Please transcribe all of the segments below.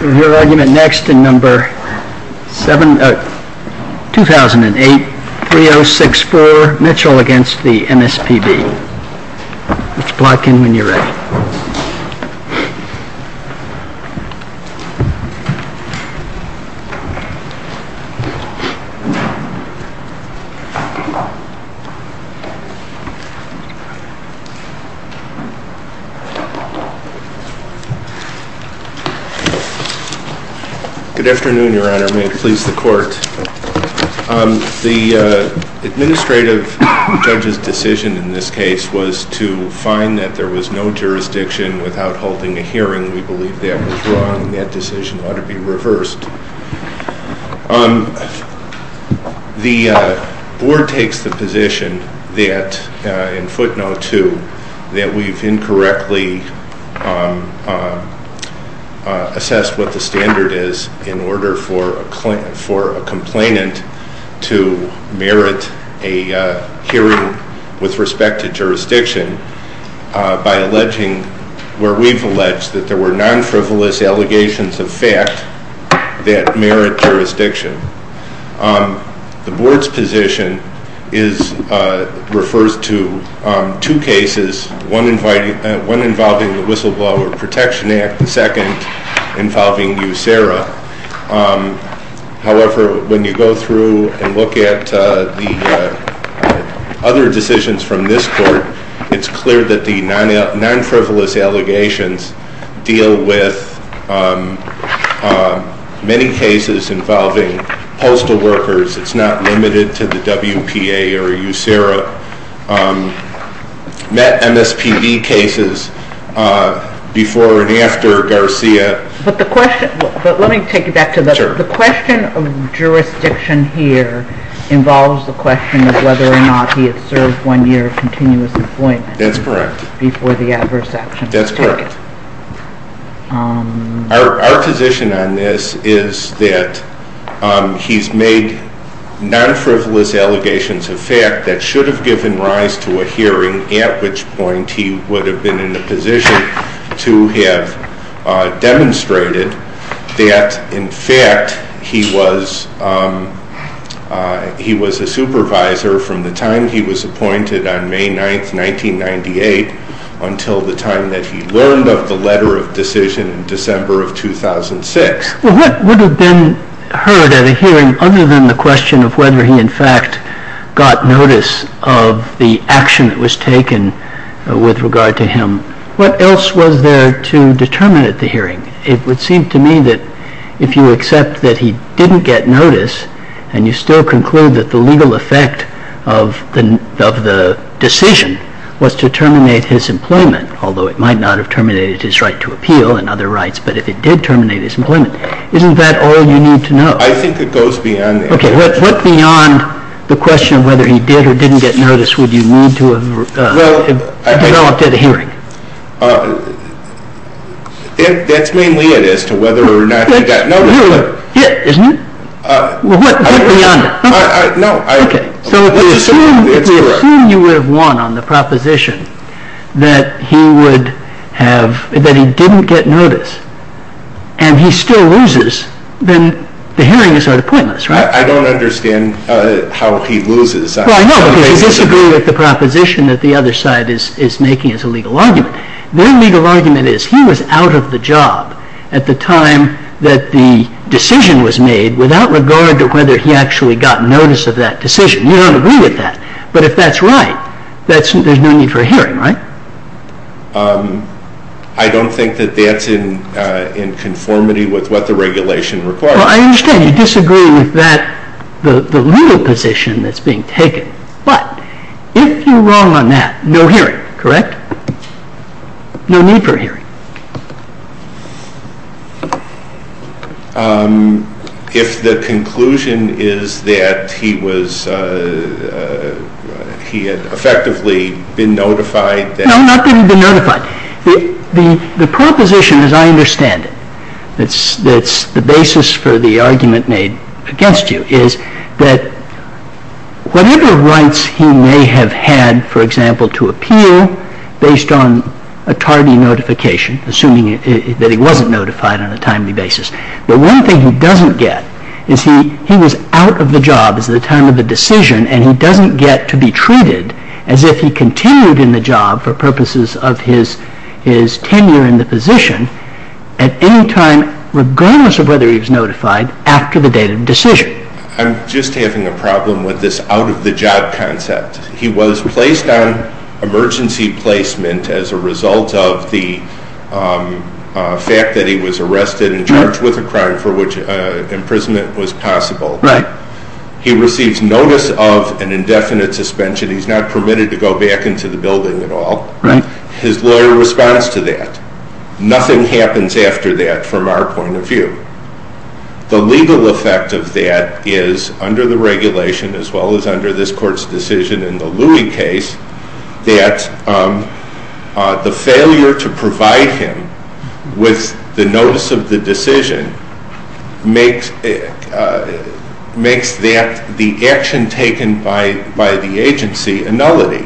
Review argument next in number 2008-3064 Mitchell v. MSPB Good afternoon, your honor. May it please the court. The administrative judge's decision in this case was to find that there was no jurisdiction without holding a hearing. We believe that was wrong and that decision ought to be reversed. The board takes the position that, in footnote 2, that we've incorrectly assessed what the standard is in order for a complainant to merit a hearing with respect to jurisdiction by alleging where we've alleged that there were non-frivolous allegations of fact. The board's position refers to two cases, one involving the Whistleblower Protection Act, the second involving USERRA. However, when you go through and look at the other decisions from this court, it's clear that the non-frivolous allegations deal with many cases involving postal workers. It's not limited to the WPA or USERRA. We've met MSPB cases before and after Garcia. But let me take you back to the question of jurisdiction here involves the question of whether or not he had served one year of continuous employment before the adverse action was taken. Our position on this is that he's made non-frivolous allegations of fact that should have given rise to a hearing, at which point he would have been in a position to have demonstrated that, in fact, he was a supervisor from the time he was appointed on May 9th, 1998, until the time that he learned of the letter of decision in December of 2006. What would have been heard at a hearing other than the question of whether he, in fact, got notice of the action that was taken with regard to him? What else was there to determine at the hearing? It would seem to me that if you accept that he didn't get notice and you still conclude that the legal effect of the decision was to terminate his employment, although it might not have terminated his right to appeal and other rights, but if it did terminate his employment, isn't that all you need to know? I think it goes beyond that. Okay. What beyond the question of whether he did or didn't get notice would you need to have developed at a hearing? Well, that's mainly it as to whether or not he got notice. That's really it, isn't it? Well, what beyond that? No. Okay. That's correct. I assume you would have won on the proposition that he didn't get notice and he still loses. Then the hearing is sort of pointless, right? I don't understand how he loses. Well, I know because I disagree with the proposition that the other side is making as a legal argument. Their legal argument is he was out of the job at the time that the decision was made without regard to whether he actually got notice of that decision. You don't agree with that, but if that's right, there's no need for a hearing, right? I don't think that that's in conformity with what the regulation requires. Well, I understand you disagree with that, the legal position that's being taken, but if you're wrong on that, no hearing, correct? No need for a hearing. If the conclusion is that he was, he had effectively been notified. No, not that he'd been notified. The proposition, as I understand it, that's the basis for the argument made against you is that whatever rights he may have had, for example, to appeal based on a tardy notification, assuming that he wasn't notified on a timely basis. But one thing he doesn't get is he was out of the job at the time of the decision and he doesn't get to be treated as if he continued in the job for purposes of his tenure in the position at any time, regardless of whether he was notified, after the date of the decision. I'm just having a problem with this out of the job concept. He was placed on emergency placement as a result of the fact that he was arrested and charged with a crime for which imprisonment was possible. Right. He receives notice of an indefinite suspension. He's not permitted to go back into the building at all. Right. His lawyer responds to that. Nothing happens after that from our point of view. The legal effect of that is, under the regulation as well as under this Court's decision in the Louis case, that the failure to provide him with the notice of the decision makes that the action taken by the agency a nullity.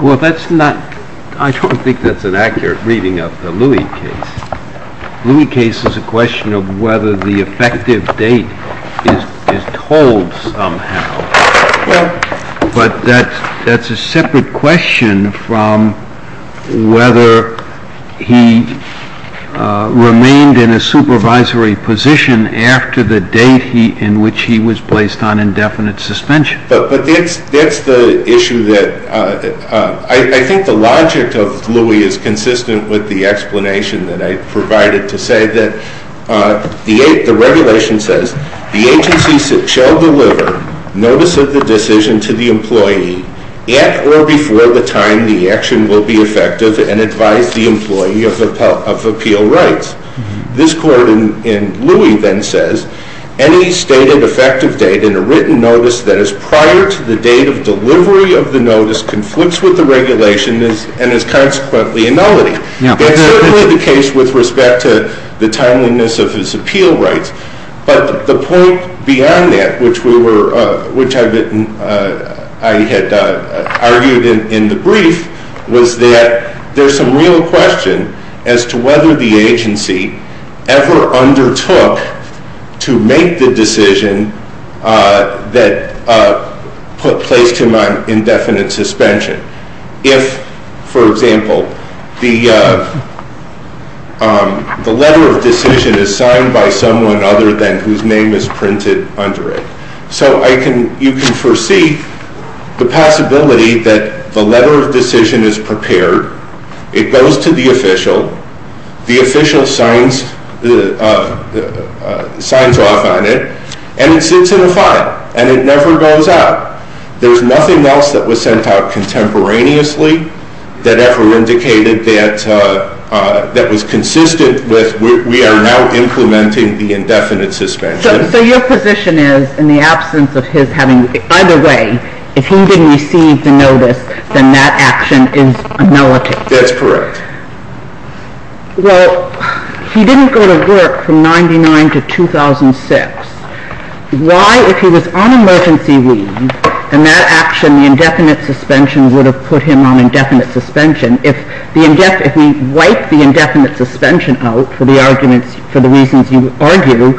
Well, that's not – I don't think that's an accurate reading of the Louis case. The Louis case is a question of whether the effective date is told somehow. Well. But that's a separate question from whether he remained in a supervisory position after the date in which he was placed on indefinite suspension. But that's the issue that – I think the logic of Louis is consistent with the explanation that I provided to say that the regulation says the agency shall deliver notice of the decision to the employee at or before the time the action will be effective and advise the employee of appeal rights. This court in Louis then says, any stated effective date in a written notice that is prior to the date of delivery of the notice conflicts with the regulation and is consequently a nullity. That's certainly the case with respect to the timeliness of his appeal rights. But the point beyond that, which I had argued in the brief, was that there's some real question as to whether the agency ever undertook to make the decision that placed him on indefinite suspension. If, for example, the letter of decision is signed by someone other than whose name is printed under it. So you can foresee the possibility that the letter of decision is prepared. It goes to the official. The official signs off on it. And it sits in a file. And it never goes out. There's nothing else that was sent out contemporaneously that ever indicated that was consistent with we are now implementing the indefinite suspension. So your position is, in the absence of his having, either way, if he didn't receive the notice, then that action is a nullity. That's correct. Well, he didn't go to work from 99 to 2006. Why, if he was on emergency leave, and that action, the indefinite suspension, would have put him on indefinite suspension. If we wipe the indefinite suspension out for the reasons you argue,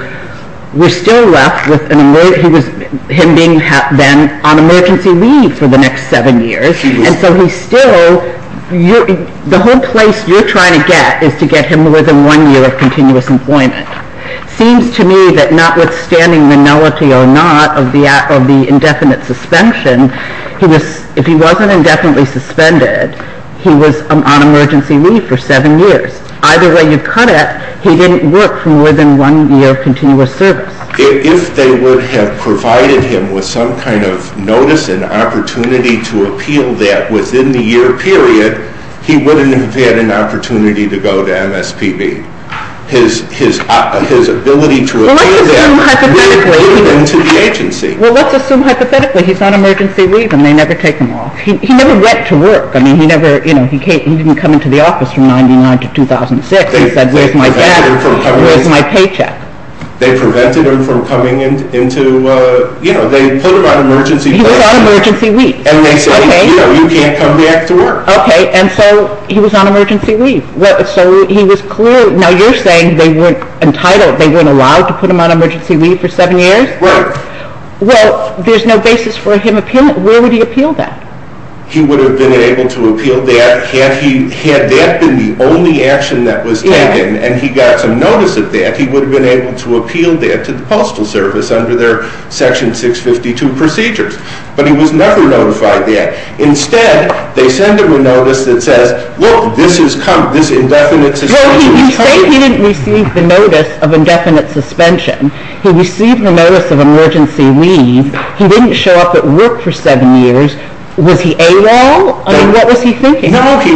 we're still left with him being then on emergency leave for the next seven years. And so he's still, the whole place you're trying to get is to get him more than one year of continuous employment. It seems to me that notwithstanding the nullity or not of the indefinite suspension, if he wasn't indefinitely suspended, he was on emergency leave for seven years. Either way you cut it, he didn't work for more than one year of continuous service. If they would have provided him with some kind of notice and opportunity to appeal that within the year period, he wouldn't have had an opportunity to go to MSPB. His ability to appeal that would have put him into the agency. Well, let's assume hypothetically he's on emergency leave and they never take him off. He never went to work. I mean, he never, you know, he didn't come into the office from 99 to 2006. He said, where's my dad? Where's my paycheck? They prevented him from coming into, you know, they put him on emergency leave. He was on emergency leave. And they said, you know, you can't come back to work. Okay, and so he was on emergency leave. So he was clearly, now you're saying they weren't entitled, they weren't allowed to put him on emergency leave for seven years? Right. Well, there's no basis for him, where would he appeal that? He would have been able to appeal that had he, had that been the only action that was taken and he got some notice of that, he would have been able to appeal that to the Postal Service under their Section 652 procedures. But he was never notified that. Instead, they send him a notice that says, look, this indefinite suspension. No, you say he didn't receive the notice of indefinite suspension. He received the notice of emergency leave. He didn't show up at work for seven years. Was he AWOL? I mean, what was he thinking? No, he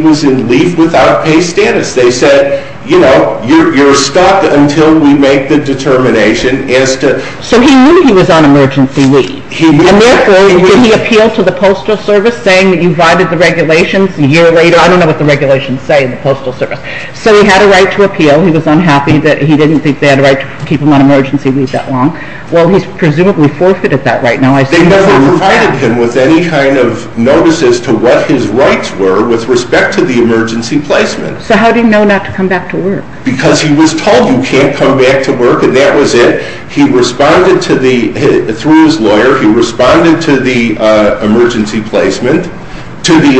was in leave without pay status. They said, you know, you're stuck until we make the determination as to. So he knew he was on emergency leave. And therefore, did he appeal to the Postal Service saying that you violated the regulations a year later? I don't know what the regulations say in the Postal Service. So he had a right to appeal. He was unhappy that he didn't think they had a right to keep him on emergency leave that long. Well, he's presumably forfeited that right now. They never provided him with any kind of notices to what his rights were with respect to the emergency placement. So how did he know not to come back to work? Because he was told you can't come back to work and that was it. He responded through his lawyer. He responded to the emergency placement, to the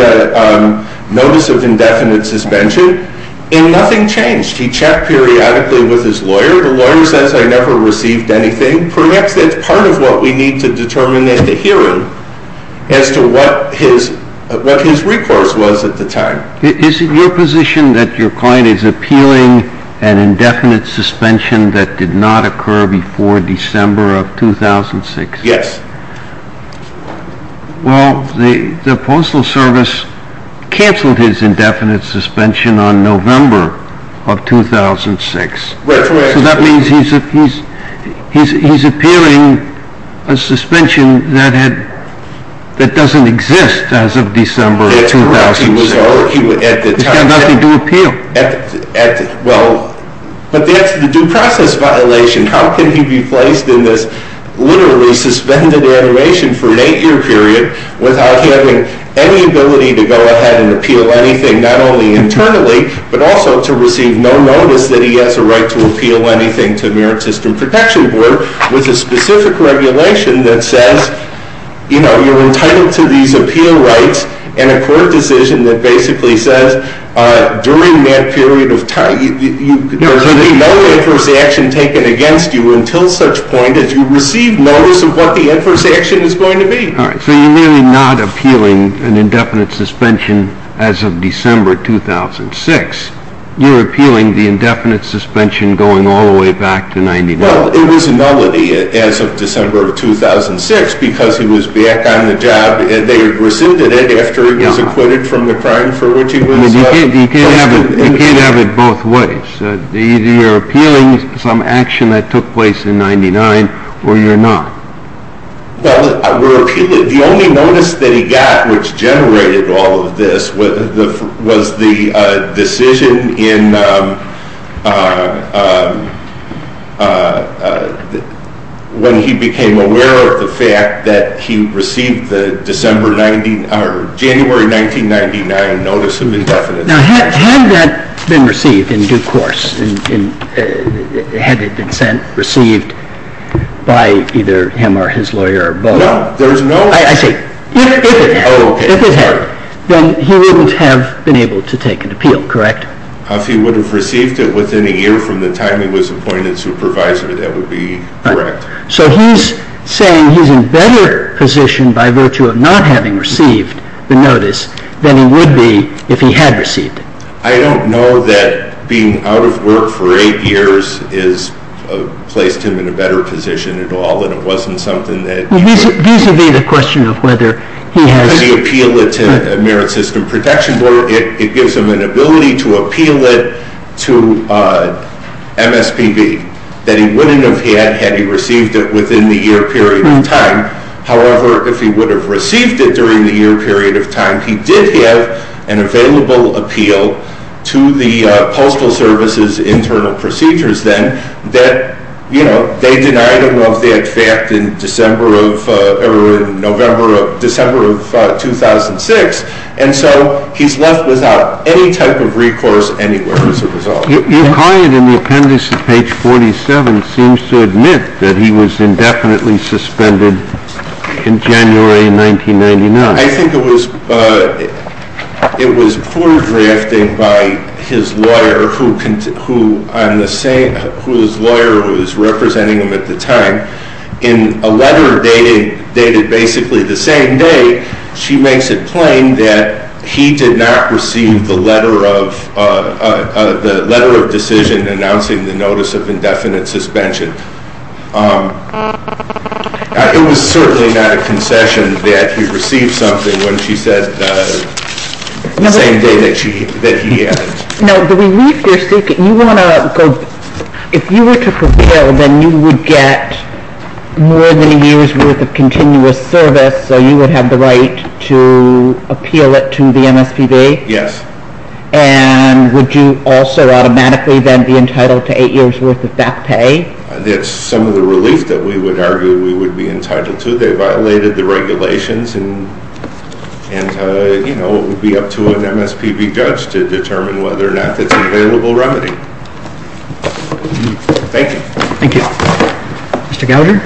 notice of indefinite suspension, and nothing changed. He checked periodically with his lawyer. The lawyer says, I never received anything. Perhaps that's part of what we need to determine at the hearing as to what his recourse was at the time. Is it your position that your client is appealing an indefinite suspension that did not occur before December of 2006? Yes. Well, the Postal Service canceled his indefinite suspension on November of 2006. That's correct. So that means he's appealing a suspension that doesn't exist as of December of 2006. That's correct. He's got nothing to appeal. Well, but that's the due process violation. How can he be placed in this literally suspended iteration for an eight-year period without having any ability to go ahead and appeal anything, not only internally but also to receive no notice that he has a right to appeal anything to Merit System Protection Board with a specific regulation that says, you know, you're entitled to these appeal rights and a court decision that basically says, during that period of time, there should be no adverse action taken against you until such point as you receive notice of what the adverse action is going to be. All right. So you're really not appealing an indefinite suspension as of December 2006. You're appealing the indefinite suspension going all the way back to 1999. Well, it was a nullity as of December of 2006 because he was back on the job. They rescinded it after he was acquitted from the crime for which he was- You can't have it both ways. Either you're appealing some action that took place in 99 or you're not. Well, I would appeal it. The only notice that he got which generated all of this was the decision when he became aware of the fact that he received the January 1999 notice of indefinite suspension. Now, had that been received in due course, had it been sent, received by either him or his lawyer or both- No, there's no- I see. If it had- Oh, okay. If it had, then he wouldn't have been able to take an appeal, correct? If he would have received it within a year from the time he was appointed supervisor, that would be correct. So he's saying he's in better position by virtue of not having received the notice than he would be if he had received it. I don't know that being out of work for eight years has placed him in a better position at all and it wasn't something that- Vis-à-vis the question of whether he has- However, if he would have received it during the year period of time, he did have an available appeal to the Postal Service's internal procedures then. They denied him of that fact in December of- or in November of- December of 2006. And so he's left without any type of recourse anywhere as a result. Your client in the appendix at page 47 seems to admit that he was indefinitely suspended in January 1999. I think it was poor drafting by his lawyer, whose lawyer was representing him at the time, in a letter dated basically the same day. She makes it plain that he did not receive the letter of decision announcing the notice of indefinite suspension. It was certainly not a concession that he received something when she said the same day that he had. Now, the relief you're seeking, you want to go- if you were to prevail, then you would get more than a year's worth of continuous service, so you would have the right to appeal it to the MSPB? Yes. And would you also automatically then be entitled to eight years' worth of back pay? That's some of the relief that we would argue we would be entitled to. They violated the regulations, and, you know, it would be up to an MSPB judge to determine whether or not that's an available remedy. Thank you. Thank you. Mr. Gouger,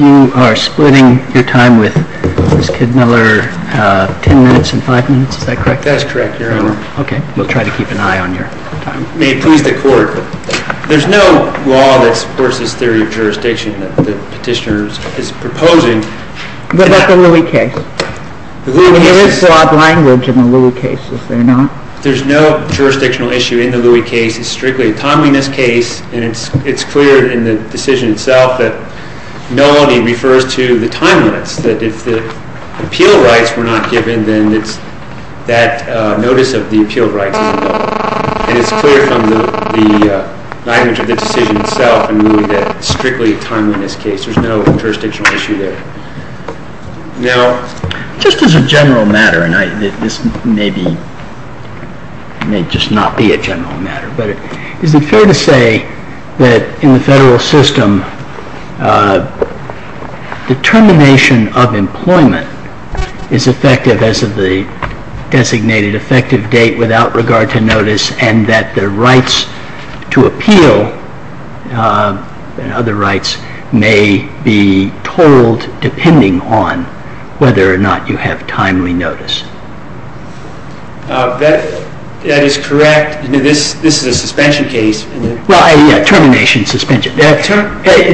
you are splitting your time with Ms. Kidmiller ten minutes and five minutes, is that correct? That's correct, Your Honor. Okay, we'll try to keep an eye on your time. There's no law that supports this theory of jurisdiction that the petitioner is proposing. What about the Louis case? There is broad language in the Louis case, is there not? There's no jurisdictional issue in the Louis case. It's strictly a timeliness case, and it's clear in the decision itself that nullity refers to the time limits, that if the appeal rights were not given, then that notice of the appeal rights is null. And it's clear from the language of the decision itself in Louis that it's strictly a timeliness case. There's no jurisdictional issue there. Now, just as a general matter, and this may just not be a general matter, but is it fair to say that in the federal system, the termination of employment is effective as of the designated effective date without regard to notice, and that the rights to appeal and other rights may be totaled depending on whether or not you have timely notice? That is correct. This is a suspension case. Well, yeah, termination, suspension.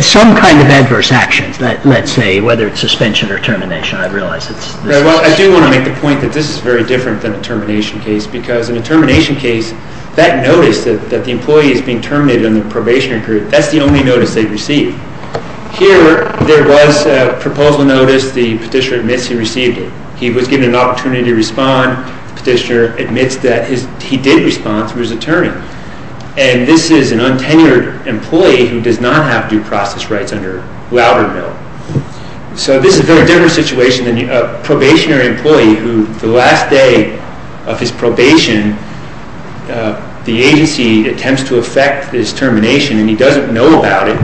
Some kind of adverse actions, let's say, whether it's suspension or termination, I realize. Well, I do want to make the point that this is very different than a termination case, because in a termination case, that notice that the employee is being terminated on the probationary period, that's the only notice they receive. Here, there was a proposal notice. The petitioner admits he received it. He was given an opportunity to respond. The petitioner admits that he did respond to his attorney. And this is an untenured employee who does not have due process rights under Loudermill. So this is a very different situation than a probationary employee who, the last day of his probation, the agency attempts to effect his termination, and he doesn't know about it,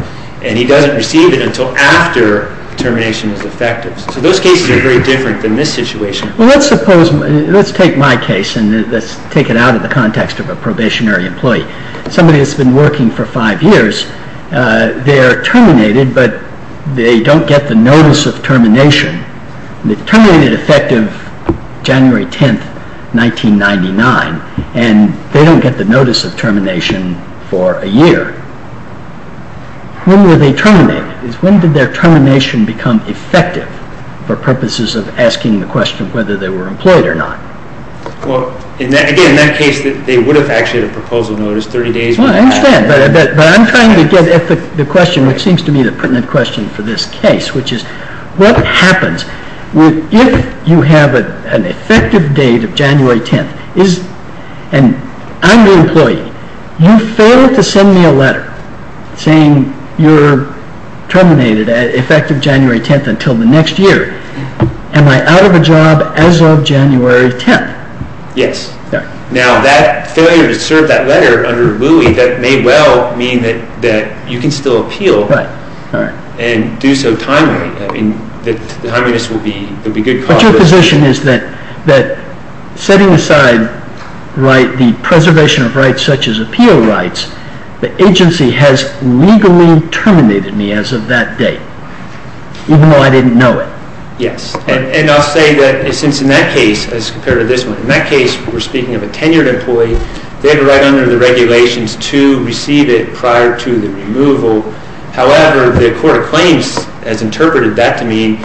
and he doesn't receive it until after termination is effective. So those cases are very different than this situation. Well, let's suppose, let's take my case, and let's take it out of the context of a probationary employee. Somebody that's been working for five years, they're terminated, but they don't get the notice of termination. They're terminated effective January 10, 1999, and they don't get the notice of termination for a year. When were they terminated? When did their termination become effective for purposes of asking the question whether they were employed or not? Well, again, in that case, they would have actually had a proposal notice 30 days before. Well, I understand, but I'm trying to get at the question, which seems to me the pertinent question for this case, which is what happens if you have an effective date of January 10th, and I'm the employee. You fail to send me a letter saying you're terminated effective January 10th until the next year. Am I out of a job as of January 10th? Yes. Now, that failure to serve that letter under Louis, that may well mean that you can still appeal and do so timely. I mean, the timeliness will be good cause for this. But your position is that setting aside the preservation of rights such as appeal rights, the agency has legally terminated me as of that date, even though I didn't know it. Yes, and I'll say that since in that case, as compared to this one, in that case, we're speaking of a tenured employee, they have it right under the regulations to receive it prior to the removal. However, the Court of Claims has interpreted that to mean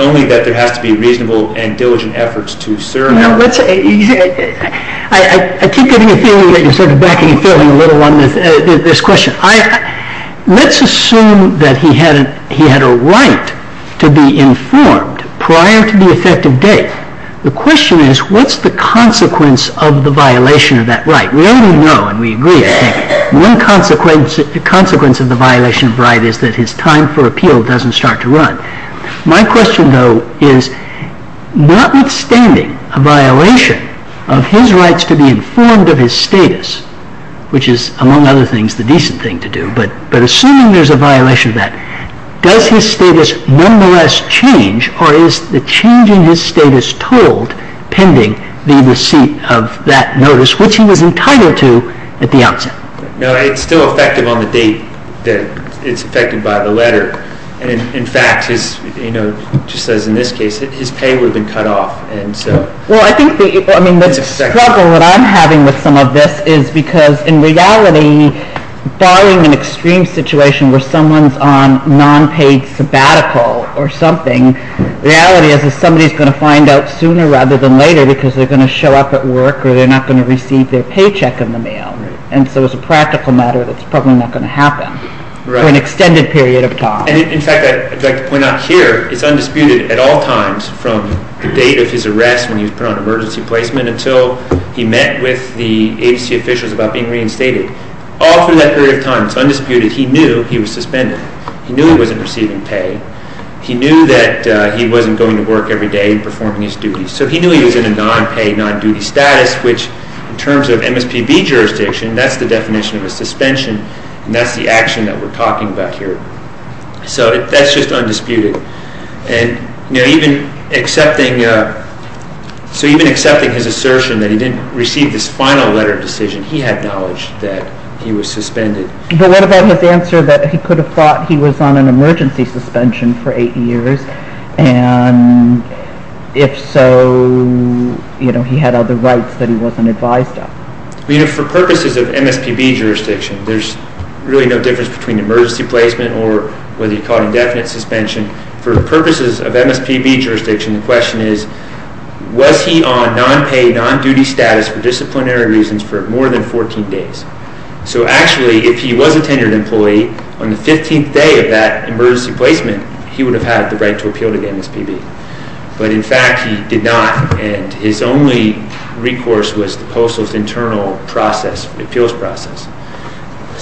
only that there has to be reasonable and diligent efforts to serve. I keep getting a feeling that you're sort of backing and failing a little on this question. Let's assume that he had a right to be informed prior to the effective date. The question is, what's the consequence of the violation of that right? We already know and we agree, I think, one consequence of the violation of right is that his time for appeal doesn't start to run. My question, though, is notwithstanding a violation of his rights to be informed of his status, which is, among other things, the decent thing to do, but assuming there's a violation of that, does his status nonetheless change or is the change in his status told pending the receipt of that notice, which he was entitled to at the outset? No, it's still effective on the date that it's affected by the letter. In fact, just as in this case, his pay would have been cut off. Well, I think the struggle that I'm having with some of this is because, in reality, barring an extreme situation where someone's on non-paid sabbatical or something, the reality is that somebody's going to find out sooner rather than later because they're going to show up at work or they're not going to receive their paycheck in the mail. And so it's a practical matter that's probably not going to happen for an extended period of time. In fact, I'd like to point out here, it's undisputed at all times from the date of his arrest when he was put on emergency placement until he met with the agency officials about being reinstated. All through that period of time, it's undisputed, he knew he was suspended. He knew he wasn't receiving pay. He knew that he wasn't going to work every day and performing his duties. So he knew he was in a non-paid, non-duty status, which in terms of MSPB jurisdiction, that's the definition of a suspension, and that's the action that we're talking about here. So that's just undisputed. And even accepting his assertion that he didn't receive this final letter of decision, he had knowledge that he was suspended. But what about his answer that he could have thought he was on an emergency suspension for eight years, and if so, he had other rights that he wasn't advised of? For purposes of MSPB jurisdiction, there's really no difference between emergency placement or whether you call it indefinite suspension. For purposes of MSPB jurisdiction, the question is, was he on non-paid, non-duty status for disciplinary reasons for more than 14 days? So actually, if he was a tenured employee, on the 15th day of that emergency placement, he would have had the right to appeal to the MSPB. But in fact, he did not, and his only recourse was the postal's internal process, appeals process.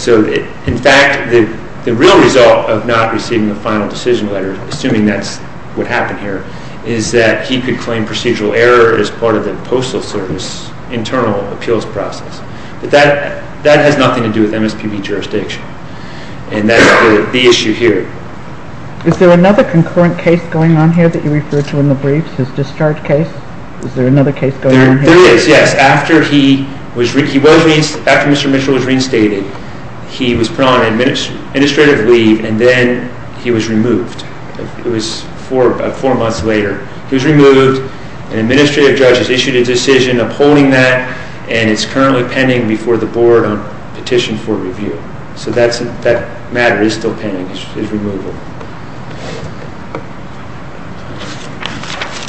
So in fact, the real result of not receiving the final decision letter, assuming that's what happened here, is that he could claim procedural error as part of the postal service internal appeals process. But that has nothing to do with MSPB jurisdiction, and that's the issue here. Is there another concurrent case going on here that you referred to in the briefs, his discharge case? Is there another case going on here? There is, yes. After he was reinstated, he was put on administrative leave, and then he was removed. It was four months later. He was removed. An administrative judge has issued a decision upholding that, and it's currently pending before the board on petition for review. So that matter is still pending, his removal.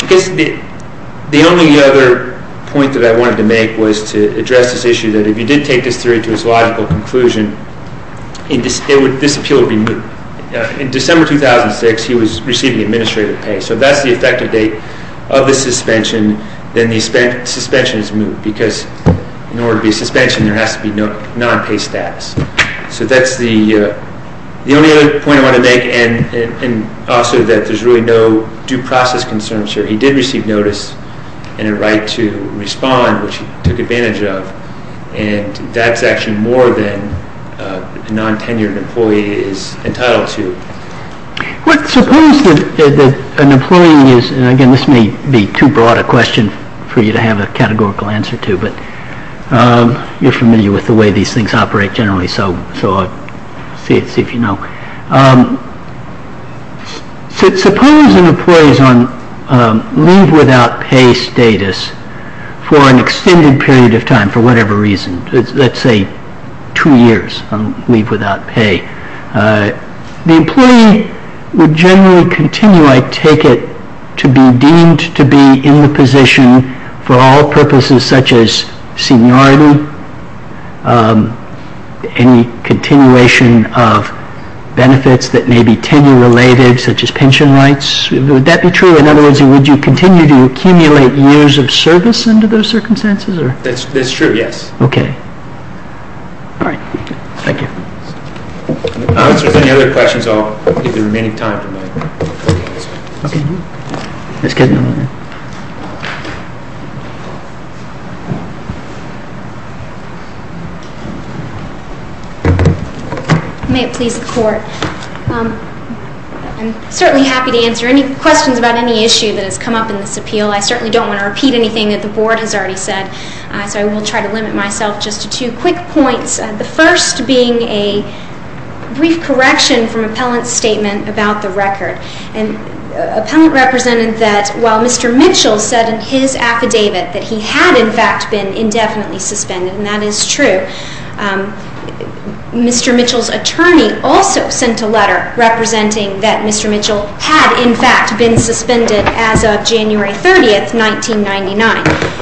I guess the only other point that I wanted to make was to address this issue, that if you did take this theory to its logical conclusion, this appeal would be moved. In December 2006, he was receiving administrative pay. So if that's the effective date of the suspension, then the suspension is moved, because in order to be suspended, there has to be non-pay status. So that's the only other point I want to make, and also that there's really no due process concerns here. He did receive notice and a right to respond, which he took advantage of, and that's actually more than a non-tenured employee is entitled to. Let's suppose that an employee is, and again, this may be too broad a question for you to have a categorical answer to, but you're familiar with the way these things operate generally, so I'll see if you know. Suppose an employee is on leave without pay status for an extended period of time, for whatever reason, let's say two years on leave without pay. The employee would generally continue, I take it, to be deemed to be in the position for all purposes such as seniority, any continuation of benefits that may be tenure-related, such as pension rights. Would that be true? In other words, would you continue to accumulate years of service under those circumstances? That's true, yes. Okay. All right. Thank you. If there's any other questions, I'll give the remaining time to Mike. Okay. That's good. May it please the Court. I'm certainly happy to answer any questions about any issue that has come up in this appeal. I certainly don't want to repeat anything that the Board has already said, so I will try to limit myself just to two quick points, the first being a brief correction from Appellant's statement about the record. And Appellant represented that while Mr. Mitchell said in his affidavit that he had, in fact, been indefinitely suspended, and that is true, Mr. Mitchell's attorney also sent a letter representing that Mr. Mitchell had, in fact, been suspended as of January 30, 1999.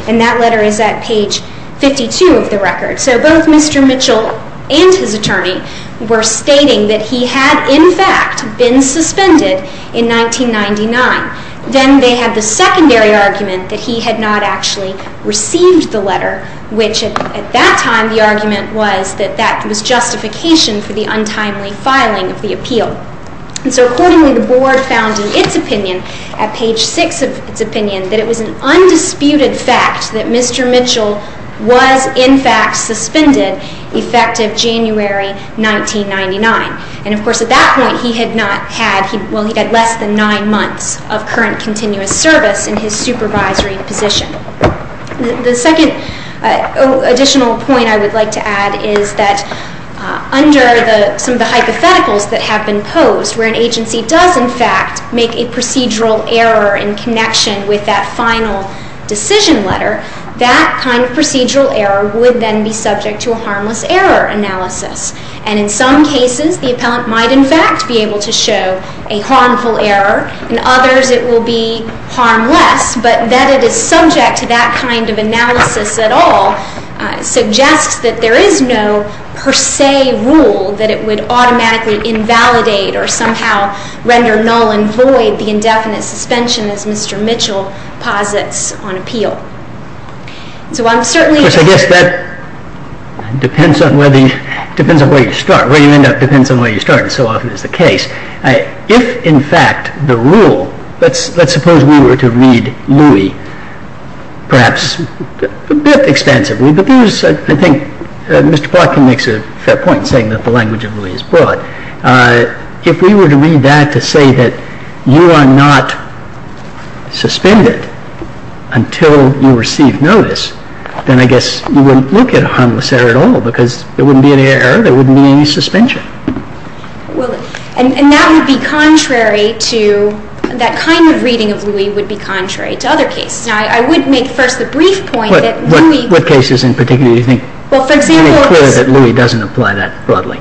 And that letter is at page 52 of the record. So both Mr. Mitchell and his attorney were stating that he had, in fact, been suspended in 1999. Then they had the secondary argument that he had not actually received the letter, which at that time the argument was that that was justification for the untimely filing of the appeal. And so, accordingly, the Board found in its opinion, at page 6 of its opinion, that it was an undisputed fact that Mr. Mitchell was, in fact, suspended effective January 1999. And, of course, at that point he had not had, well, he had less than nine months of current continuous service in his supervisory position. The second additional point I would like to add is that under some of the hypotheticals that have been posed, where an agency does, in fact, make a procedural error in connection with that final decision letter, that kind of procedural error would then be subject to a harmless error analysis. And in some cases the Appellant might, in fact, be able to show a harmful error. In others it will be harmless. But that it is subject to that kind of analysis at all suggests that there is no per se rule that it would automatically invalidate or somehow render null and void the indefinite suspension, as Mr. Mitchell posits on appeal. So I'm certainly... Of course, I guess that depends on where you start. Where you end up depends on where you start, and so often is the case. If, in fact, the rule... Let's suppose we were to read Louis, perhaps a bit expansively, but I think Mr. Plotkin makes a fair point in saying that the language of Louis is broad. If we were to read that to say that you are not suspended until you receive notice, then I guess you wouldn't look at a harmless error at all because there wouldn't be any error, there wouldn't be any suspension. Well, and that would be contrary to... That kind of reading of Louis would be contrary to other cases. Now, I would make first the brief point that Louis... What cases in particular do you think... Well, for example... ...are any clear that Louis doesn't apply that broadly?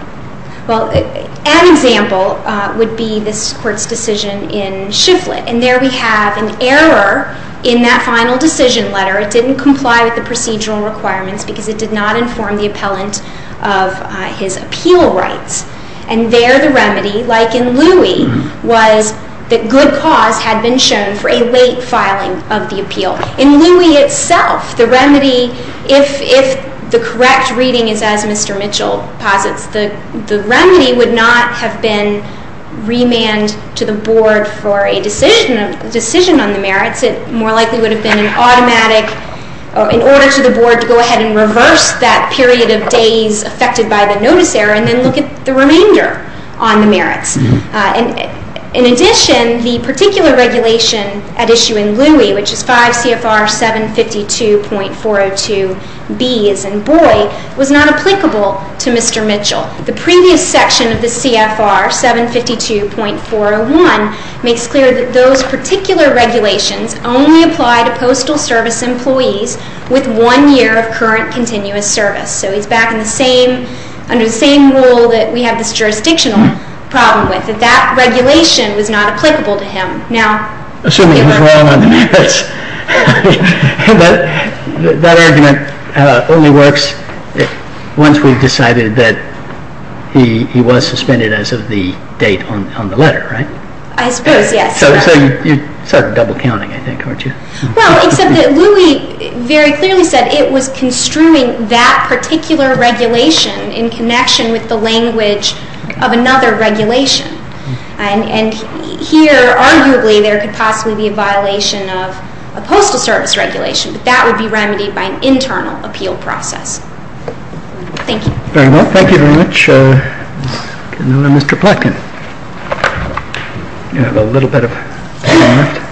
Well, an example would be this Court's decision in Shiflett, and there we have an error in that final decision letter. It didn't comply with the procedural requirements because it did not inform the Appellant of his appeal rights. And there the remedy, like in Louis, was that good cause had been shown for a late filing of the appeal. In Louis itself, the remedy, if the correct reading is as Mr. Mitchell posits, the remedy would not have been remand to the Board for a decision on the merits. It more likely would have been an automatic... In order for the Board to go ahead and reverse that period of days affected by the notice error and then look at the remainder on the merits. In addition, the particular regulation at issue in Louis, which is 5 CFR 752.402b as in Boyd, was not applicable to Mr. Mitchell. The previous section of the CFR 752.401 makes clear that those particular regulations only apply to Postal Service employees with one year of current continuous service. So he's back in the same, under the same rule that we have this jurisdictional problem with. That that regulation was not applicable to him. Now... Assuming he's wrong on the merits. That argument only works once we've decided that he was suspended as of the date on the letter, right? I suppose, yes. So you're sort of double counting, I think, aren't you? Well, except that Louis very clearly said it was construing that particular regulation in connection with the language of another regulation. And here, arguably, there could possibly be a violation of a Postal Service regulation. But that would be remedied by an internal appeal process. Thank you. Very well. Thank you very much. Good morning, Mr. Plotkin. You have a little bit of time left.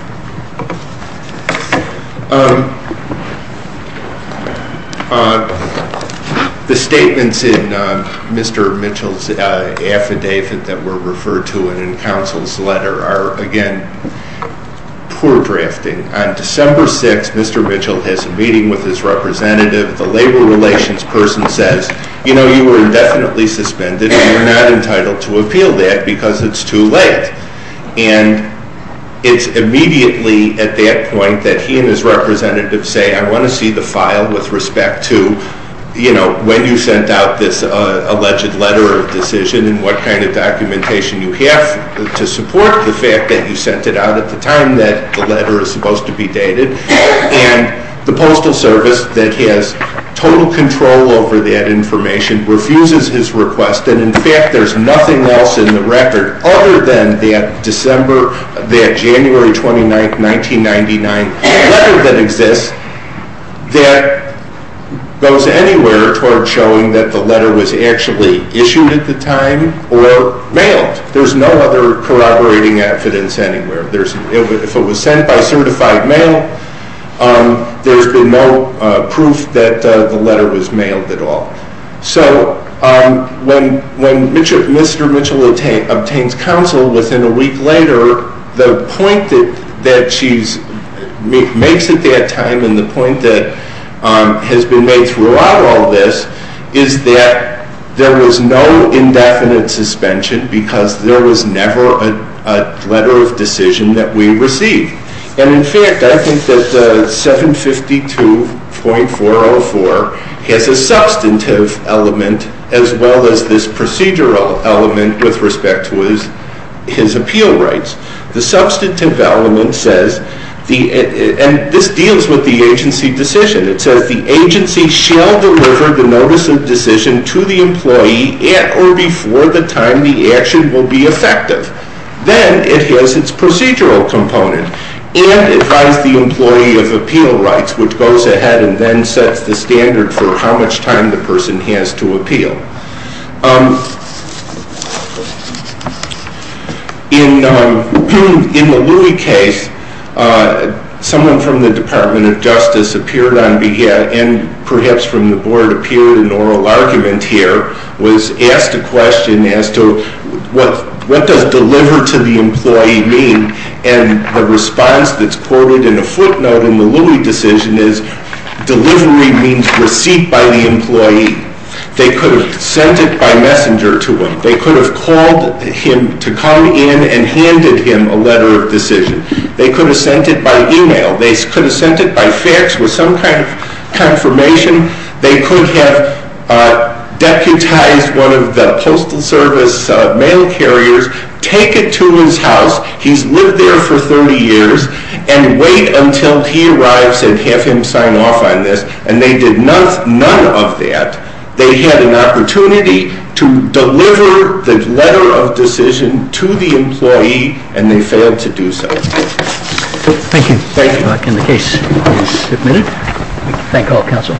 The statements in Mr. Mitchell's affidavit that were referred to in Council's letter are, again, poor drafting. On December 6th, Mr. Mitchell has a meeting with his representative. The labor relations person says, You know, you were indefinitely suspended, and you're not entitled to appeal that because it's too late. And it's immediately at that point that he and his representative say, I want to see the file with respect to, you know, when you sent out this alleged letter of decision and what kind of documentation you have to support the fact that you sent it out at the time that the letter is supposed to be dated. And the Postal Service, that has total control over that information, refuses his request. And, in fact, there's nothing else in the record other than that December, that January 29th, 1999 letter that exists that goes anywhere toward showing that the letter was actually issued at the time or mailed. There's no other corroborating evidence anywhere. If it was sent by certified mail, there's been no proof that the letter was mailed at all. So when Mr. Mitchell obtains counsel within a week later, the point that she makes at that time and the point that has been made throughout all this is that there was no indefinite suspension because there was never a letter of decision that we received. And, in fact, I think that 752.404 has a substantive element as well as this procedural element with respect to his appeal rights. The substantive element says, and this deals with the agency decision, it says the agency shall deliver the notice of decision to the employee at or before the time the action will be effective. Then it has its procedural component, and it has the employee of appeal rights, which goes ahead and then sets the standard for how much time the person has to appeal. In the Louie case, someone from the Department of Justice appeared on behalf, and perhaps from the board appeared in oral argument here, was asked a question as to what does deliver to the employee mean? And the response that's quoted in a footnote in the Louie decision is, delivery means receipt by the employee. They could have sent it by messenger to him. They could have called him to come in and handed him a letter of decision. They could have sent it by email. They could have sent it by fax with some kind of confirmation. They could have deputized one of the postal service mail carriers, take it to his house, he's lived there for 30 years, and wait until he arrives and have him sign off on this. And they did none of that. They had an opportunity to deliver the letter of decision to the employee, and they failed to do so. Thank you. Thank you. And the case is submitted. Thank all counsel.